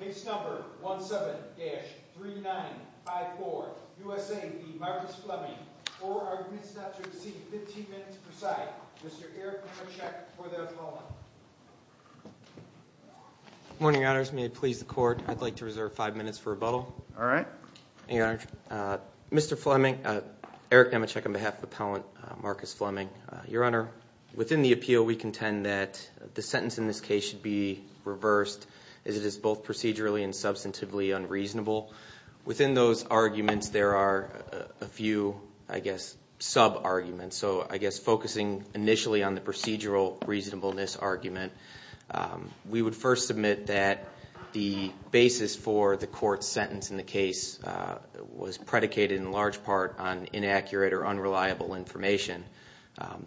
Case No. 17-3954, USA v. Marcus Fleming, for arguments not to exceed 15 minutes per side, Mr. Eric Nemechek for the appellant. Good morning, Your Honors. May it please the Court, I'd like to reserve five minutes for rebuttal. All right. Mr. Fleming, Eric Nemechek on behalf of the appellant, Marcus Fleming. Your Honor, within the appeal, we contend that the sentence in this case should be reversed, as it is both procedurally and substantively unreasonable. Within those arguments, there are a few, I guess, sub-arguments. So I guess focusing initially on the procedural reasonableness argument, we would first submit that the basis for the court's sentence in the case was predicated in large part on inaccurate or unreliable information.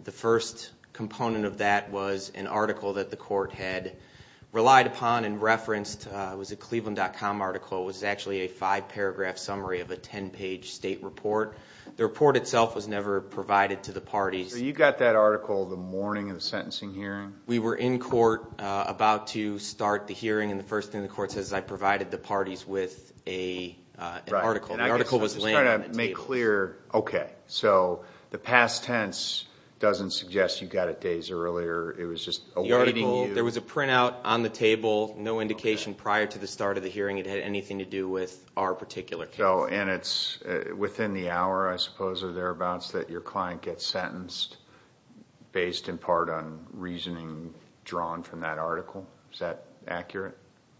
The first component of that was an article that the court had relied upon and referenced. It was a Cleveland.com article. It was actually a five-paragraph summary of a ten-page state report. The report itself was never provided to the parties. So you got that article the morning of the sentencing hearing? We were in court about to start the hearing, and the first thing the court says is I provided the parties with an article. The article was laying on the table. I'm just trying to make clear. Okay, so the past tense doesn't suggest you got it days earlier. It was just awaiting you. There was a printout on the table, no indication prior to the start of the hearing it had anything to do with our particular case. And it's within the hour, I suppose, or thereabouts, that your client gets sentenced based in part on reasoning drawn from that article? Is that accurate?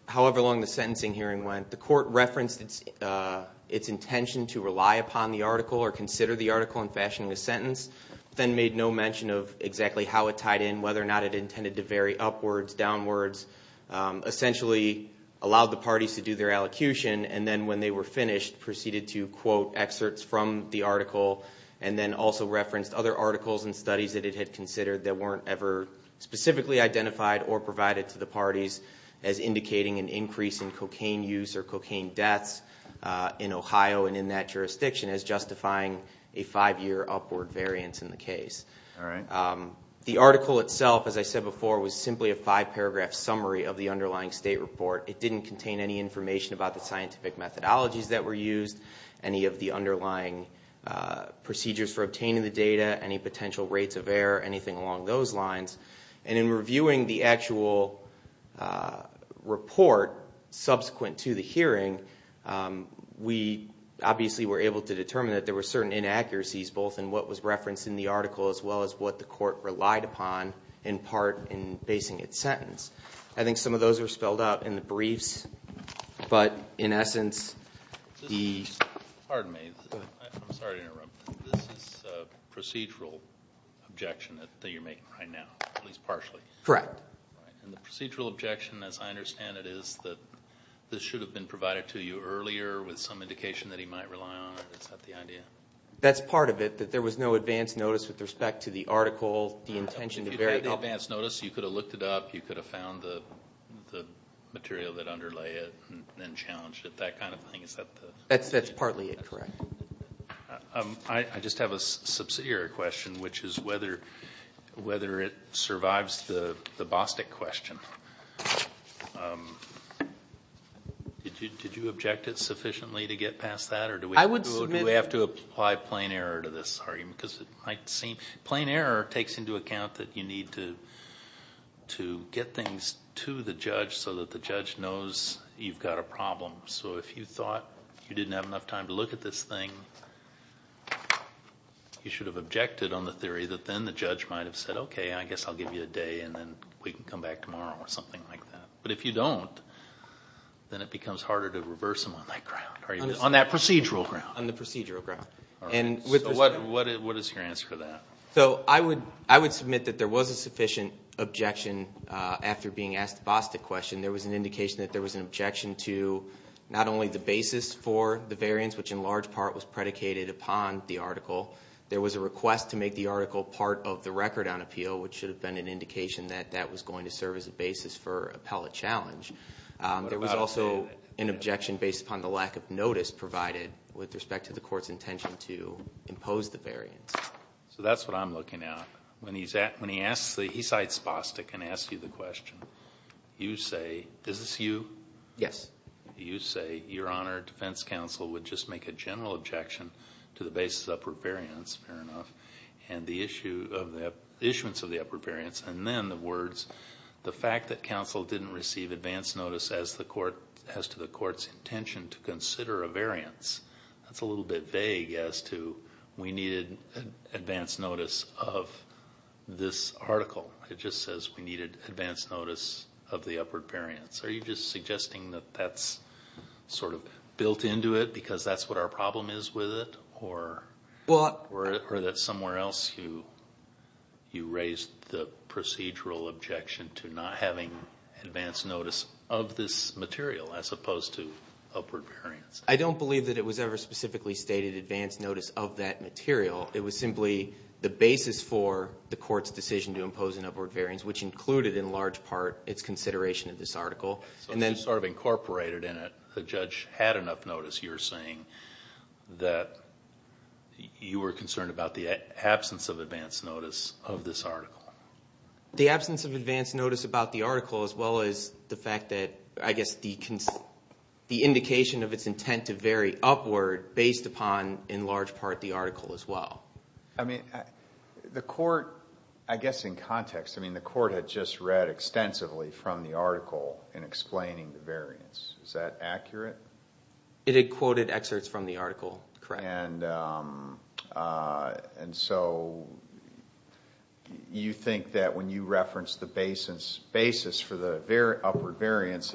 However long the sentencing hearing went, the court referenced its intention to rely upon the article or consider the article in fashioning a sentence, then made no mention of exactly how it tied in, whether or not it intended to vary upwards, downwards, essentially allowed the parties to do their allocution, and then when they were finished proceeded to quote excerpts from the article and then also referenced other articles and studies that it had considered that weren't ever specifically identified or provided to the parties as indicating an increase in cocaine use or cocaine deaths in Ohio and in that jurisdiction as justifying a five-year upward variance in the case. All right. The article itself, as I said before, was simply a five-paragraph summary of the underlying state report. It didn't contain any information about the scientific methodologies that were used, any of the underlying procedures for obtaining the data, any potential rates of error, anything along those lines. And in reviewing the actual report subsequent to the hearing, we obviously were able to determine that there were certain inaccuracies, both in what was referenced in the article as well as what the court relied upon in part in basing its sentence. I think some of those are spelled out in the briefs. But in essence, the— Pardon me. I'm sorry to interrupt. This is a procedural objection that you're making right now, at least partially. Correct. And the procedural objection, as I understand it, is that this should have been provided to you earlier with some indication that he might rely on it. Is that the idea? That's part of it, that there was no advance notice with respect to the article, the intention to vary— If you had advance notice, you could have looked it up, you could have found the material that underlay it and then challenged it, that kind of thing. Is that the— That's partly it, correct. I just have a subsidiary question, which is whether it survives the Bostic question. Did you object it sufficiently to get past that, or do we have to— Let's apply plain error to this argument because it might seem— Plain error takes into account that you need to get things to the judge so that the judge knows you've got a problem. So if you thought you didn't have enough time to look at this thing, you should have objected on the theory that then the judge might have said, okay, I guess I'll give you a day and then we can come back tomorrow or something like that. But if you don't, then it becomes harder to reverse them on that ground. On that procedural ground. On the procedural ground. What is your answer to that? I would submit that there was a sufficient objection after being asked the Bostic question. There was an indication that there was an objection to not only the basis for the variance, which in large part was predicated upon the article. There was a request to make the article part of the record on appeal, which should have been an indication that that was going to serve as a basis for appellate challenge. There was also an objection based upon the lack of notice provided with respect to the court's intention to impose the variance. So that's what I'm looking at. When he cites Bostic and asks you the question, you say, is this you? Yes. You say, Your Honor, defense counsel would just make a general objection to the basis of the upper variance, fair enough, and the issuance of the upper variance, and then the words, the fact that counsel didn't receive advance notice as to the court's intention to consider a variance, that's a little bit vague as to we needed advance notice of this article. It just says we needed advance notice of the upward variance. Are you just suggesting that that's sort of built into it because that's what our problem is with it, or that somewhere else you raised the procedural objection to not having advance notice of this material as opposed to upward variance? I don't believe that it was ever specifically stated advance notice of that material. It was simply the basis for the court's decision to impose an upward variance, which included in large part its consideration of this article. So this is sort of incorporated in it. The judge had enough notice, you're saying, that you were concerned about the absence of advance notice of this article. The absence of advance notice about the article as well as the fact that, I guess, the indication of its intent to vary upward based upon in large part the article as well. I mean, the court, I guess in context, I mean, the court had just read extensively from the article in explaining the variance. Is that accurate? It had quoted excerpts from the article, correct. And so you think that when you reference the basis for the upward variance,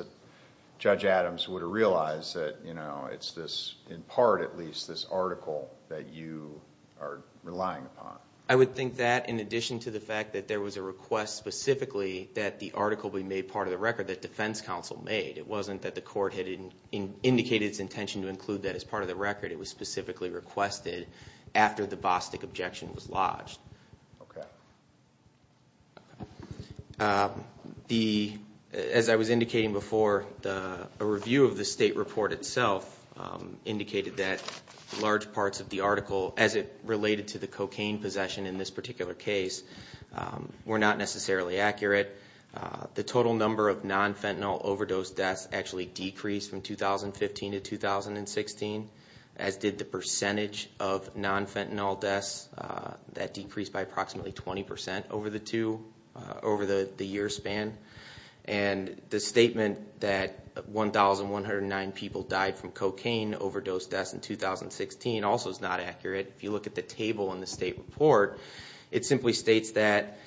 Judge Adams would have realized that, you know, it's this, in part at least, this article that you are relying upon. I would think that in addition to the fact that there was a request specifically that the article be made part of the record that defense counsel made. It wasn't that the court had indicated its intention to include that as part of the record. It was specifically requested after the Bostic objection was lodged. Okay. As I was indicating before, a review of the state report itself indicated that large parts of the article, as it related to the cocaine possession in this particular case, were not necessarily accurate. The total number of non-fentanyl overdose deaths actually decreased from 2015 to 2016, as did the percentage of non-fentanyl deaths. That decreased by approximately 20% over the two, over the year span. And the statement that 1,109 people died from cocaine overdose deaths in 2016 also is not accurate. If you look at the table in the state report, it simply states that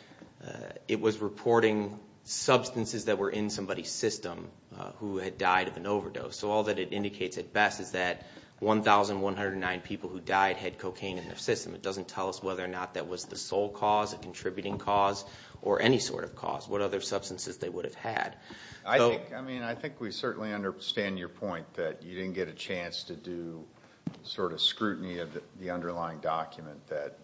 it was reporting substances that were in somebody's system who had died of an overdose. So all that it indicates at best is that 1,109 people who died had cocaine in their system. It doesn't tell us whether or not that was the sole cause, a contributing cause, or any sort of cause. What other substances they would have had. I think we certainly understand your point that you didn't get a chance to do sort of scrutiny of the underlying document that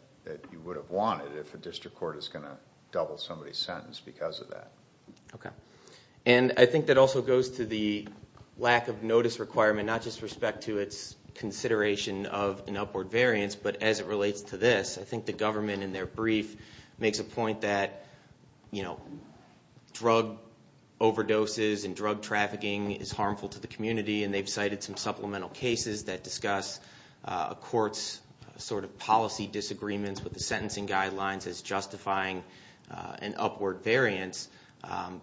you would have wanted if a district court is going to double somebody's sentence because of that. Okay. And I think that also goes to the lack of notice requirement, not just with respect to its consideration of an upward variance, but as it relates to this. I think the government in their brief makes a point that, you know, drug overdoses and drug trafficking is harmful to the community. And they've cited some supplemental cases that discuss a court's sort of policy disagreements with the sentencing guidelines as justifying an upward variance.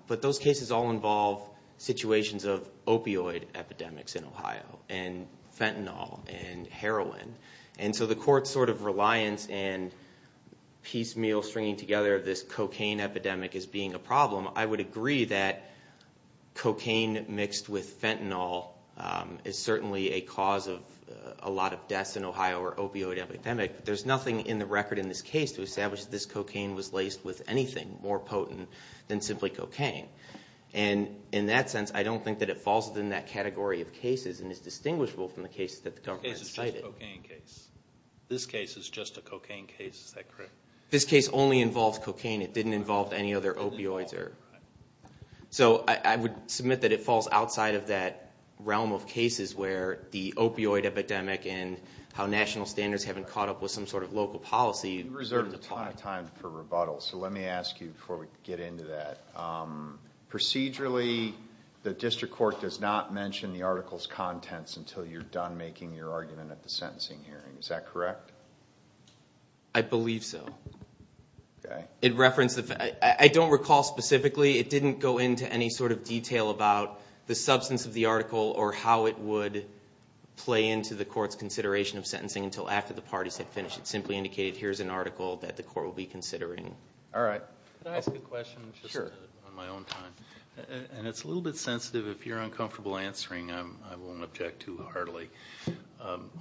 But those cases all involve situations of opioid epidemics in Ohio and fentanyl and heroin. And so the court's sort of reliance and piecemeal stringing together this cocaine epidemic as being a problem, I would agree that cocaine mixed with fentanyl is certainly a cause of a lot of deaths in Ohio or opioid epidemic. But there's nothing in the record in this case to establish that this cocaine was laced with anything more potent than simply cocaine. And in that sense, I don't think that it falls within that category of cases and is distinguishable from the cases that the government cited. This case is just a cocaine case. This case is just a cocaine case. Is that correct? This case only involves cocaine. It didn't involve any other opioids. So I would submit that it falls outside of that realm of cases where the opioid epidemic and how national standards haven't caught up with some sort of local policy. You reserved a ton of time for rebuttal, so let me ask you before we get into that. Procedurally, the district court does not mention the article's contents until you're done making your argument at the sentencing hearing. Is that correct? I believe so. I don't recall specifically. It didn't go into any sort of detail about the substance of the article or how it would play into the court's consideration of sentencing until after the parties had finished. It simply indicated here's an article that the court will be considering. All right. Could I ask a question just on my own time? It's a little bit sensitive. If you're uncomfortable answering, I won't object too heartily.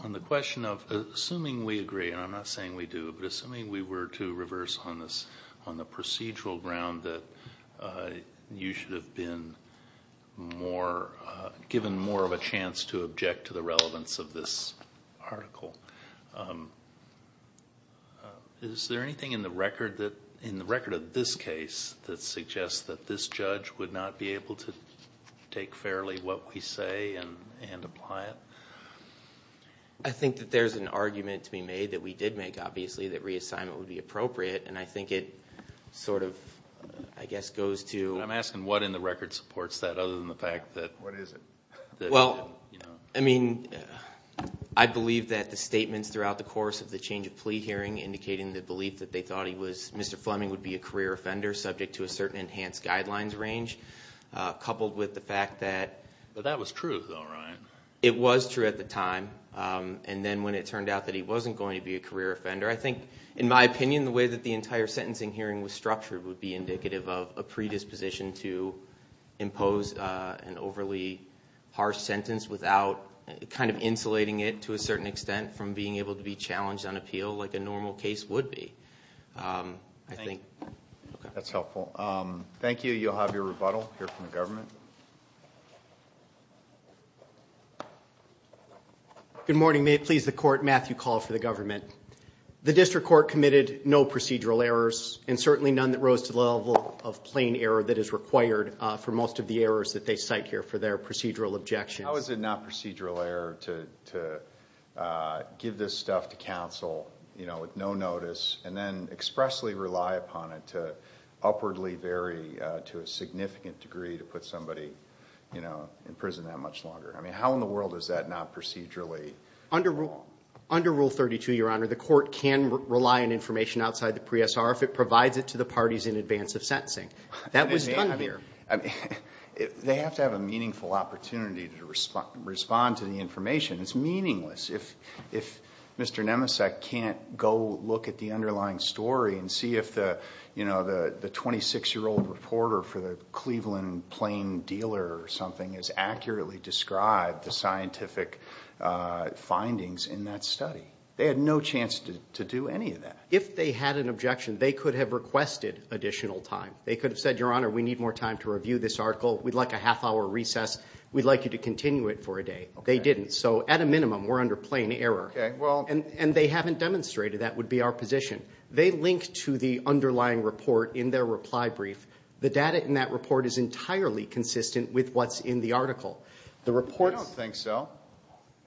On the question of assuming we agree, and I'm not saying we do, but assuming we were to reverse on the procedural ground that you should have been given more of a chance to object to the relevance of this article, is there anything in the record of this case that suggests that this judge would not be able to take fairly what we say and apply it? I think that there's an argument to be made that we did make, obviously, that reassignment would be appropriate, and I think it sort of, I guess, goes to... I'm asking what in the record supports that other than the fact that... What is it? Well, I mean, I believe that the statements throughout the course of the change of plea hearing indicating the belief that they thought Mr. Fleming would be a career offender subject to a certain enhanced guidelines range, coupled with the fact that... But that was true, though, right? It was true at the time, and then when it turned out that he wasn't going to be a career offender, I think, in my opinion, the way that the entire sentencing hearing was structured would be indicative of a predisposition to impose an overly harsh sentence without kind of insulating it to a certain extent from being able to be challenged on appeal like a normal case would be. I think... That's helpful. Thank you. You'll have your rebuttal here from the government. Good morning. May it please the Court, Matthew Call for the government. The district court committed no procedural errors, and certainly none that rose to the level of plain error that is required for most of the errors that they cite here for their procedural objections. How is it not procedural error to give this stuff to counsel with no notice and then expressly rely upon it to upwardly vary to a significant degree to put somebody in prison that much longer? I mean, how in the world is that not procedurally? Under Rule 32, Your Honor, the court can rely on information outside the pre-S.R. if it provides it to the parties in advance of sentencing. That was done here. They have to have a meaningful opportunity to respond to the information. It's meaningless. If Mr. Nemesek can't go look at the underlying story and see if the 26-year-old reporter for the Cleveland Plain Dealer or something has accurately described the scientific findings in that study, they had no chance to do any of that. If they had an objection, they could have requested additional time. They could have said, Your Honor, we need more time to review this article. We'd like a half-hour recess. We'd like you to continue it for a day. They didn't. So at a minimum, we're under plain error. And they haven't demonstrated that would be our position. They link to the underlying report in their reply brief. The data in that report is entirely consistent with what's in the article. I don't think so.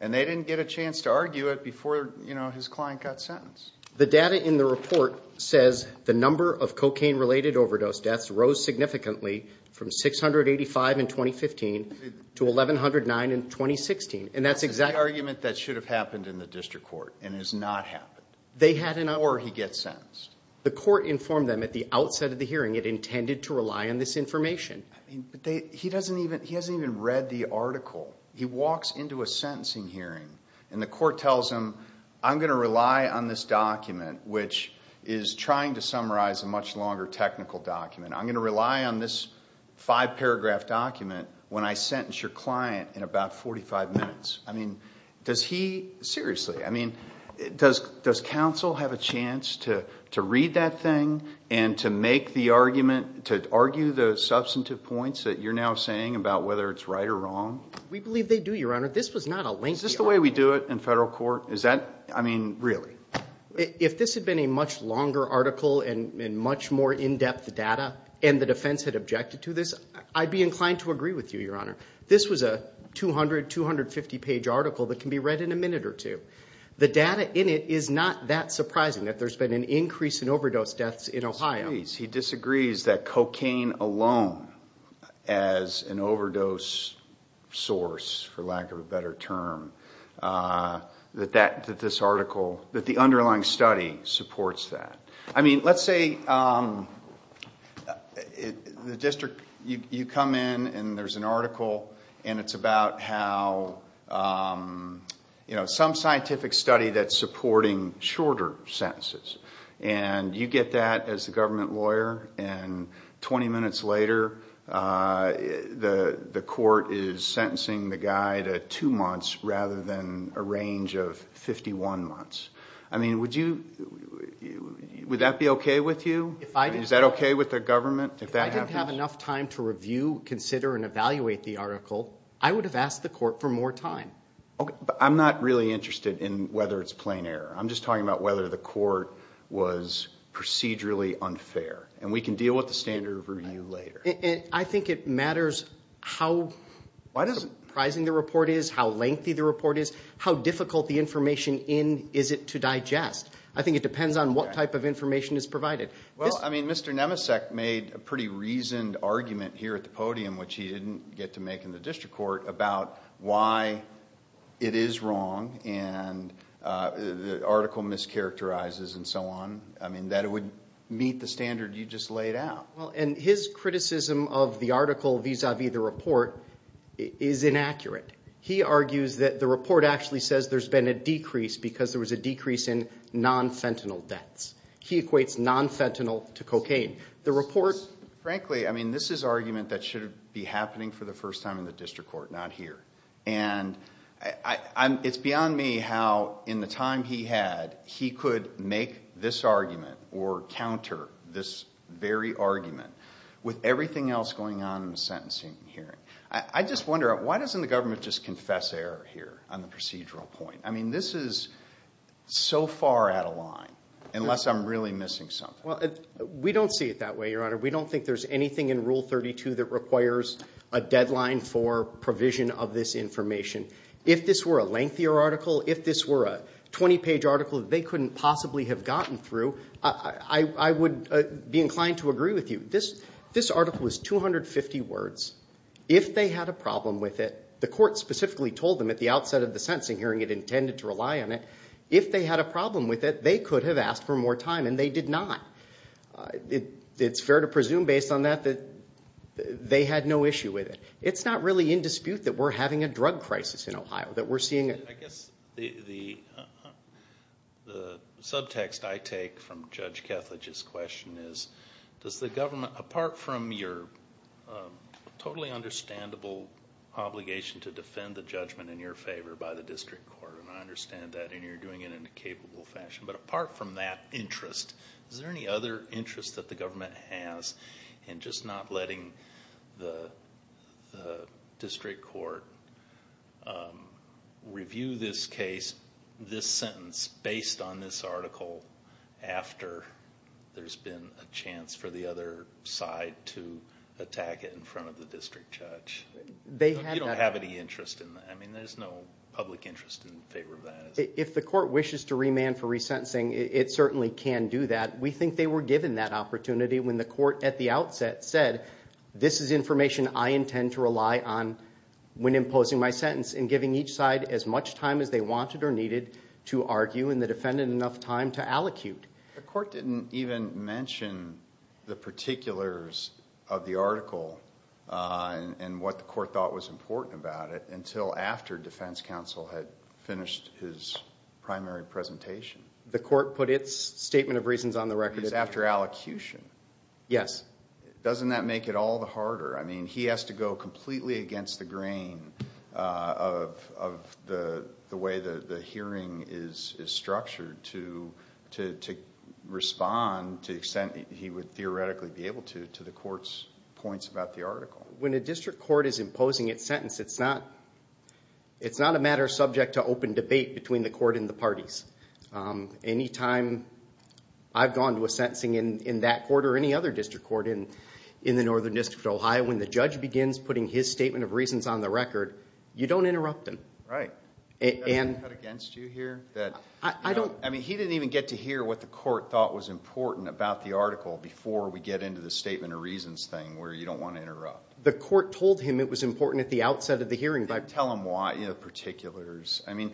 And they didn't get a chance to argue it before his client got sentenced. The data in the report says the number of cocaine-related overdose deaths rose significantly from 685 in 2015 to 1,109 in 2016. That's the argument that should have happened in the district court and has not happened before he gets sentenced. The court informed them at the outset of the hearing it intended to rely on this information. He hasn't even read the article. He walks into a sentencing hearing, and the court tells him, I'm going to rely on this document, which is trying to summarize a much longer technical document. I'm going to rely on this five-paragraph document when I sentence your client in about 45 minutes. I mean, does he seriously? I mean, does counsel have a chance to read that thing and to make the argument, to argue the substantive points that you're now saying about whether it's right or wrong? We believe they do, Your Honor. This was not a lengthy article. Is this the way we do it in federal court? I mean, really? If this had been a much longer article and much more in-depth data and the defense had objected to this, I'd be inclined to agree with you, Your Honor. This was a 200, 250-page article that can be read in a minute or two. The data in it is not that surprising that there's been an increase in overdose deaths in Ohio. He disagrees that cocaine alone as an overdose source, for lack of a better term, that this article, that the underlying study supports that. I mean, let's say the district, you come in and there's an article and it's about how some scientific study that's supporting shorter sentences, and you get that as the government lawyer, and 20 minutes later the court is sentencing the guy to two months rather than a range of 51 months. I mean, would that be okay with you? Is that okay with the government if that happens? If I didn't have enough time to review, consider, and evaluate the article, I would have asked the court for more time. Okay, but I'm not really interested in whether it's plain error. I'm just talking about whether the court was procedurally unfair, and we can deal with the standard review later. I think it matters how surprising the report is, how lengthy the report is, how difficult the information in is it to digest. I think it depends on what type of information is provided. Well, I mean, Mr. Nemesek made a pretty reasoned argument here at the podium, which he didn't get to make in the district court, about why it is wrong and the article mischaracterizes and so on. I mean, that it would meet the standard you just laid out. Well, and his criticism of the article vis-à-vis the report is inaccurate. He argues that the report actually says there's been a decrease because there was a decrease in non-fentanyl deaths. He equates non-fentanyl to cocaine. Frankly, I mean, this is argument that should be happening for the first time in the district court, not here. And it's beyond me how, in the time he had, he could make this argument or counter this very argument with everything else going on in the sentencing hearing. I just wonder, why doesn't the government just confess error here on the procedural point? I mean, this is so far out of line, unless I'm really missing something. Well, we don't see it that way, Your Honor. We don't think there's anything in Rule 32 that requires a deadline for provision of this information. If this were a lengthier article, if this were a 20-page article that they couldn't possibly have gotten through, I would be inclined to agree with you. This article was 250 words. If they had a problem with it, the court specifically told them at the outset of the sentencing hearing it intended to rely on it, if they had a problem with it, they could have asked for more time, and they did not. It's fair to presume, based on that, that they had no issue with it. It's not really in dispute that we're having a drug crisis in Ohio, that we're seeing a I guess the subtext I take from Judge Kethledge's question is, does the government, apart from your totally understandable obligation to defend the judgment in your favor by the district court, and I understand that, and you're doing it in a capable fashion, but apart from that interest, is there any other interest that the government has in just not letting the district court review this case, this sentence, based on this article, after there's been a chance for the other side to attack it in front of the district judge? You don't have any interest in that. I mean, there's no public interest in favor of that. If the court wishes to remand for resentencing, it certainly can do that. We think they were given that opportunity when the court at the outset said, this is information I intend to rely on when imposing my sentence, and giving each side as much time as they wanted or needed to argue, and the defendant enough time to allocute. The court didn't even mention the particulars of the article and what the court thought was important about it until after defense counsel had finished his primary presentation. The court put its statement of reasons on the record. It was after allocution. Yes. Doesn't that make it all the harder? I mean, he has to go completely against the grain of the way the hearing is structured to respond to the extent he would theoretically be able to to the court's points about the article. When a district court is imposing its sentence, it's not a matter subject to open debate between the court and the parties. Any time I've gone to a sentencing in that court or any other district court in the Northern District of Ohio, when the judge begins putting his statement of reasons on the record, you don't interrupt him. Right. I mean, he didn't even get to hear what the court thought was important about the article before we get into the statement of reasons thing where you don't want to interrupt. The court told him it was important at the outset of the hearing. I mean,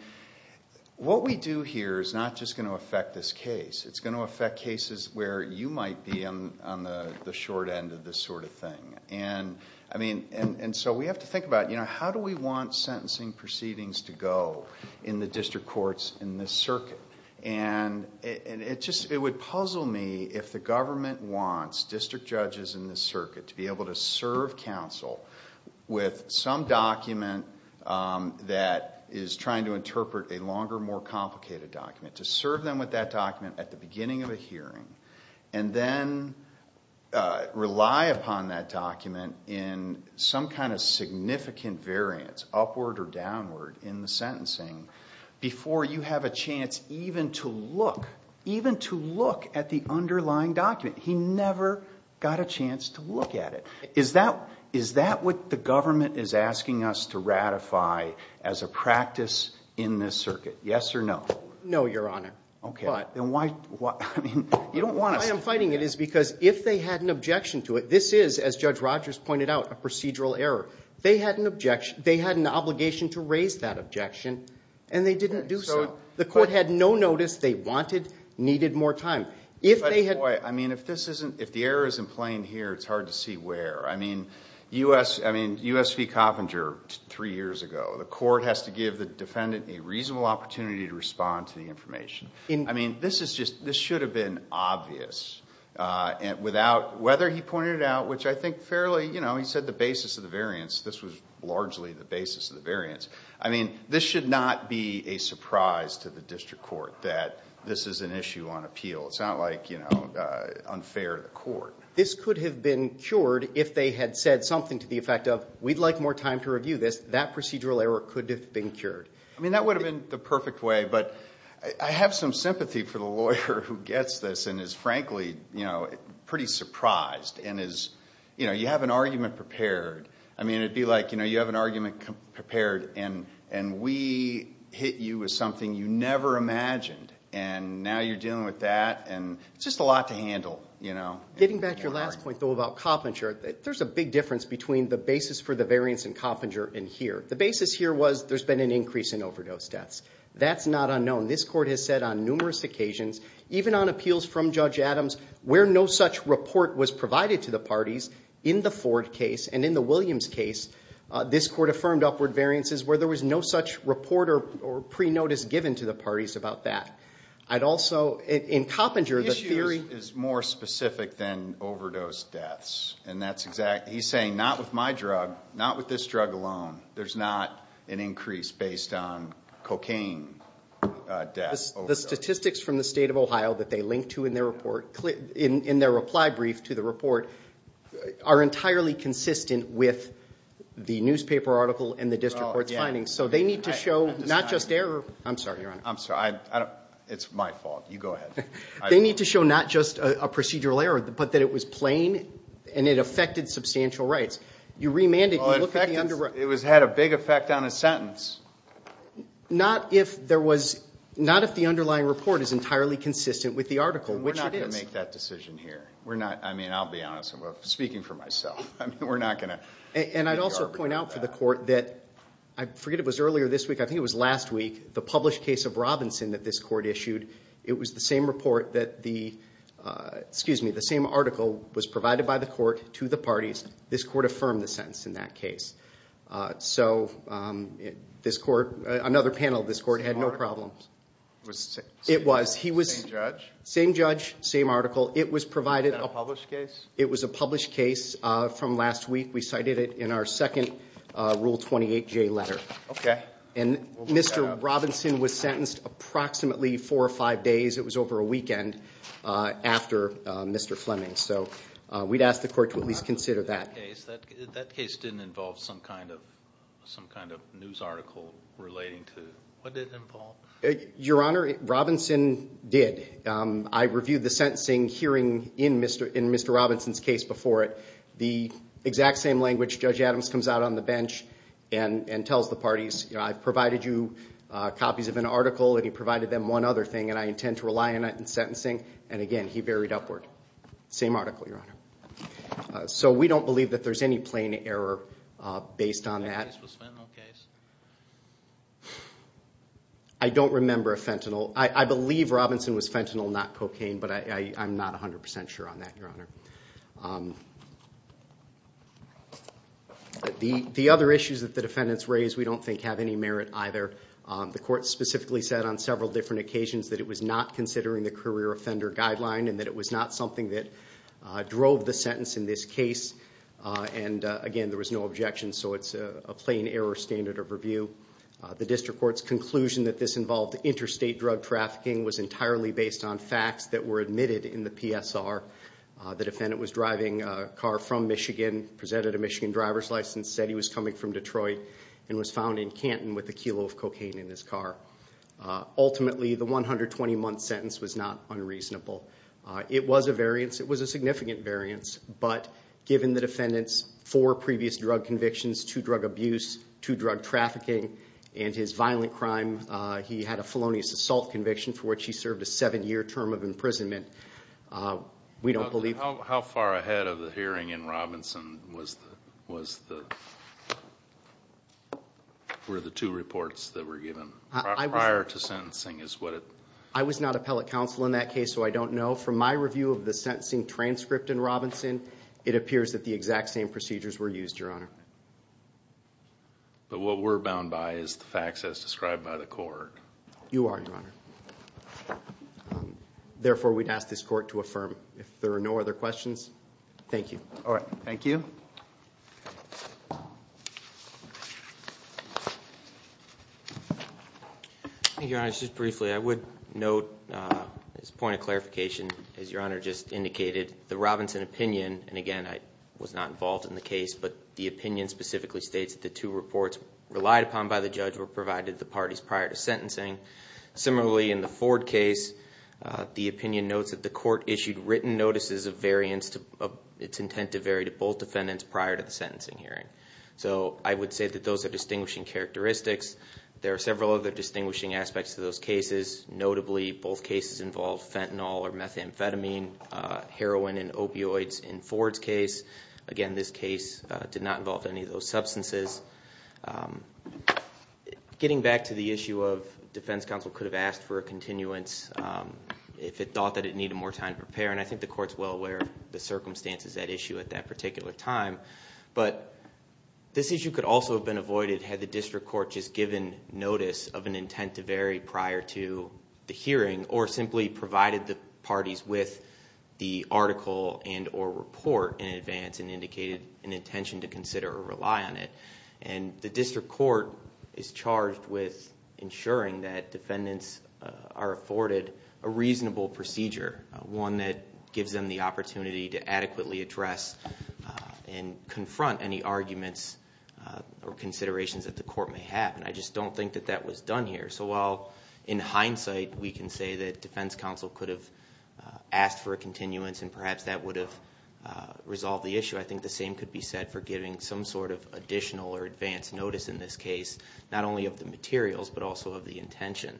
what we do here is not just going to affect this case. It's going to affect cases where you might be on the short end of this sort of thing. And so we have to think about how do we want sentencing proceedings to go in the district courts in this circuit? And it would puzzle me if the government wants district judges in this circuit to be able to serve counsel with some document that is trying to interpret a longer, more complicated document, to serve them with that document at the beginning of a hearing and then rely upon that document in some kind of significant variance, upward or downward, in the sentencing before you have a chance even to look, even to look at the underlying document. He never got a chance to look at it. Is that what the government is asking us to ratify as a practice in this circuit? Yes or no? No, Your Honor. Okay. Why? I mean, you don't want us to. The reason I'm fighting it is because if they had an objection to it, this is, as Judge Rogers pointed out, a procedural error. They had an objection. They had an obligation to raise that objection, and they didn't do so. The court had no notice. They wanted, needed more time. I mean, if this isn't, if the error isn't playing here, it's hard to see where. I mean, U.S. v. Coppinger three years ago, the court has to give the defendant a reasonable opportunity to respond to the information. I mean, this is just, this should have been obvious without whether he pointed it out, which I think fairly, you know, he said the basis of the variance. This was largely the basis of the variance. I mean, this should not be a surprise to the district court that this is an issue on appeal. It's not like, you know, unfair to the court. This could have been cured if they had said something to the effect of, we'd like more time to review this. That procedural error could have been cured. I mean, that would have been the perfect way, but I have some sympathy for the lawyer who gets this and is frankly, you know, pretty surprised and is, you know, you have an argument prepared. I mean, it would be like, you know, you have an argument prepared, and we hit you with something you never imagined, and now you're dealing with that, and it's just a lot to handle, you know. Getting back to your last point, though, about Coppinger, there's a big difference between the basis for the variance in Coppinger and here. The basis here was there's been an increase in overdose deaths. That's not unknown. This court has said on numerous occasions, even on appeals from Judge Adams, where no such report was provided to the parties in the Ford case and in the Williams case, this court affirmed upward variances where there was no such report or pre-notice given to the parties about that. I'd also, in Coppinger, the theory. The issue is more specific than overdose deaths, and that's exactly, he's saying not with my drug, not with this drug alone, there's not an increase based on cocaine deaths. The statistics from the state of Ohio that they link to in their report, in their reply brief to the report, are entirely consistent with the newspaper article and the district court's findings. So they need to show not just error. I'm sorry, Your Honor. I'm sorry. It's my fault. You go ahead. They need to show not just a procedural error, but that it was plain and it affected substantial rights. You remanded. It had a big effect on a sentence. Not if there was, not if the underlying report is entirely consistent with the article, which it is. We're not going to make that decision here. I mean, I'll be honest. Speaking for myself, we're not going to. And I'd also point out for the court that, I forget if it was earlier this week, I think it was last week, the published case of Robinson that this court issued, it was the same report that the, excuse me, the same article was provided by the court to the parties. This court affirmed the sentence in that case. So this court, another panel of this court had no problems. It was. Same judge? Same judge, same article. It was provided. Was that a published case? It was a published case from last week. We cited it in our second Rule 28J letter. Okay. And Mr. Robinson was sentenced approximately four or five days. It was over a weekend after Mr. Fleming. So we'd ask the court to at least consider that. That case didn't involve some kind of news article relating to, what did it involve? Your Honor, Robinson did. I reviewed the sentencing hearing in Mr. Robinson's case before it. The exact same language, Judge Adams comes out on the bench and tells the parties, I've provided you copies of an article, and he provided them one other thing, and I intend to rely on it in sentencing. And, again, he varied upward. Same article, Your Honor. So we don't believe that there's any plain error based on that. Do you think this was a fentanyl case? I don't remember a fentanyl. I believe Robinson was fentanyl, not cocaine, but I'm not 100% sure on that, Your Honor. The other issues that the defendants raised we don't think have any merit either. The court specifically said on several different occasions that it was not considering the career offender guideline and that it was not something that drove the sentence in this case. And, again, there was no objection, so it's a plain error standard of review. The district court's conclusion that this involved interstate drug trafficking was entirely based on facts that were admitted in the PSR. The defendant was driving a car from Michigan, presented a Michigan driver's license, said he was coming from Detroit, and was found in Canton with a kilo of cocaine in his car. Ultimately, the 120-month sentence was not unreasonable. It was a variance. It was a significant variance, but given the defendant's four previous drug convictions, two drug abuse, two drug trafficking, and his violent crime, he had a felonious assault conviction for which he served a seven-year term of imprisonment. We don't believe that. How far ahead of the hearing in Robinson were the two reports that were given prior to sentencing? I was not appellate counsel in that case, so I don't know. From my review of the sentencing transcript in Robinson, it appears that the exact same procedures were used, Your Honor. But what we're bound by is the facts as described by the court. You are, Your Honor. Therefore, we'd ask this court to affirm. If there are no other questions, thank you. All right. Thank you. Thank you, Your Honor. Just briefly, I would note this point of clarification, as Your Honor just indicated. The Robinson opinion, and again, I was not involved in the case, but the opinion specifically states that the two reports relied upon by the judge were provided to the parties prior to sentencing. Similarly, in the Ford case, the opinion notes that the court issued written notices of variance, its intent to vary to both defendants prior to the sentencing hearing. So I would say that those are distinguishing characteristics. There are several other distinguishing aspects to those cases. Notably, both cases involved fentanyl or methamphetamine, heroin and opioids in Ford's case. Again, this case did not involve any of those substances. Getting back to the issue of defense counsel could have asked for a continuance if it thought that it needed more time to prepare, and I think the court is well aware of the circumstances at issue at that particular time. But this issue could also have been avoided had the district court just given notice of an intent to vary prior to the hearing or simply provided the parties with the article and or report in advance and indicated an intention to consider or rely on it. And the district court is charged with ensuring that defendants are afforded a reasonable procedure, one that gives them the opportunity to adequately address and confront any arguments or considerations that the court may have, and I just don't think that that was done here. So while in hindsight we can say that defense counsel could have asked for a continuance and perhaps that would have resolved the issue, I think the same could be said for giving some sort of additional or advance notice in this case, not only of the materials but also of the intention.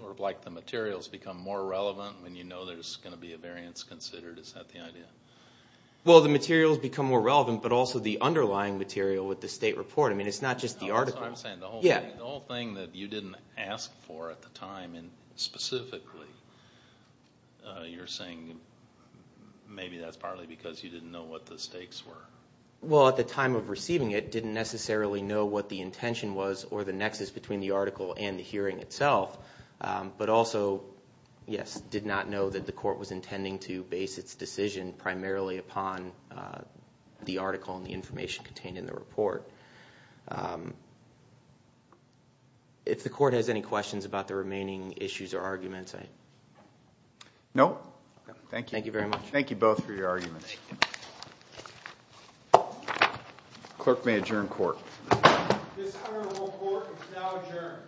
Sort of like the materials become more relevant when you know there's going to be a variance considered? Is that the idea? Well, the materials become more relevant, but also the underlying material with the state report. I mean, it's not just the article. So I'm saying the whole thing that you didn't ask for at the time, I mean, specifically, you're saying maybe that's partly because you didn't know what the stakes were. Well, at the time of receiving it, didn't necessarily know what the intention was or the nexus between the article and the hearing itself, but also, yes, did not know that the court was intending to base its decision primarily upon the article and the information contained in the report. If the court has any questions about the remaining issues or arguments? No. Thank you. Thank you very much. Thank you both for your arguments. Thank you. Clerk may adjourn court. This court is now adjourned.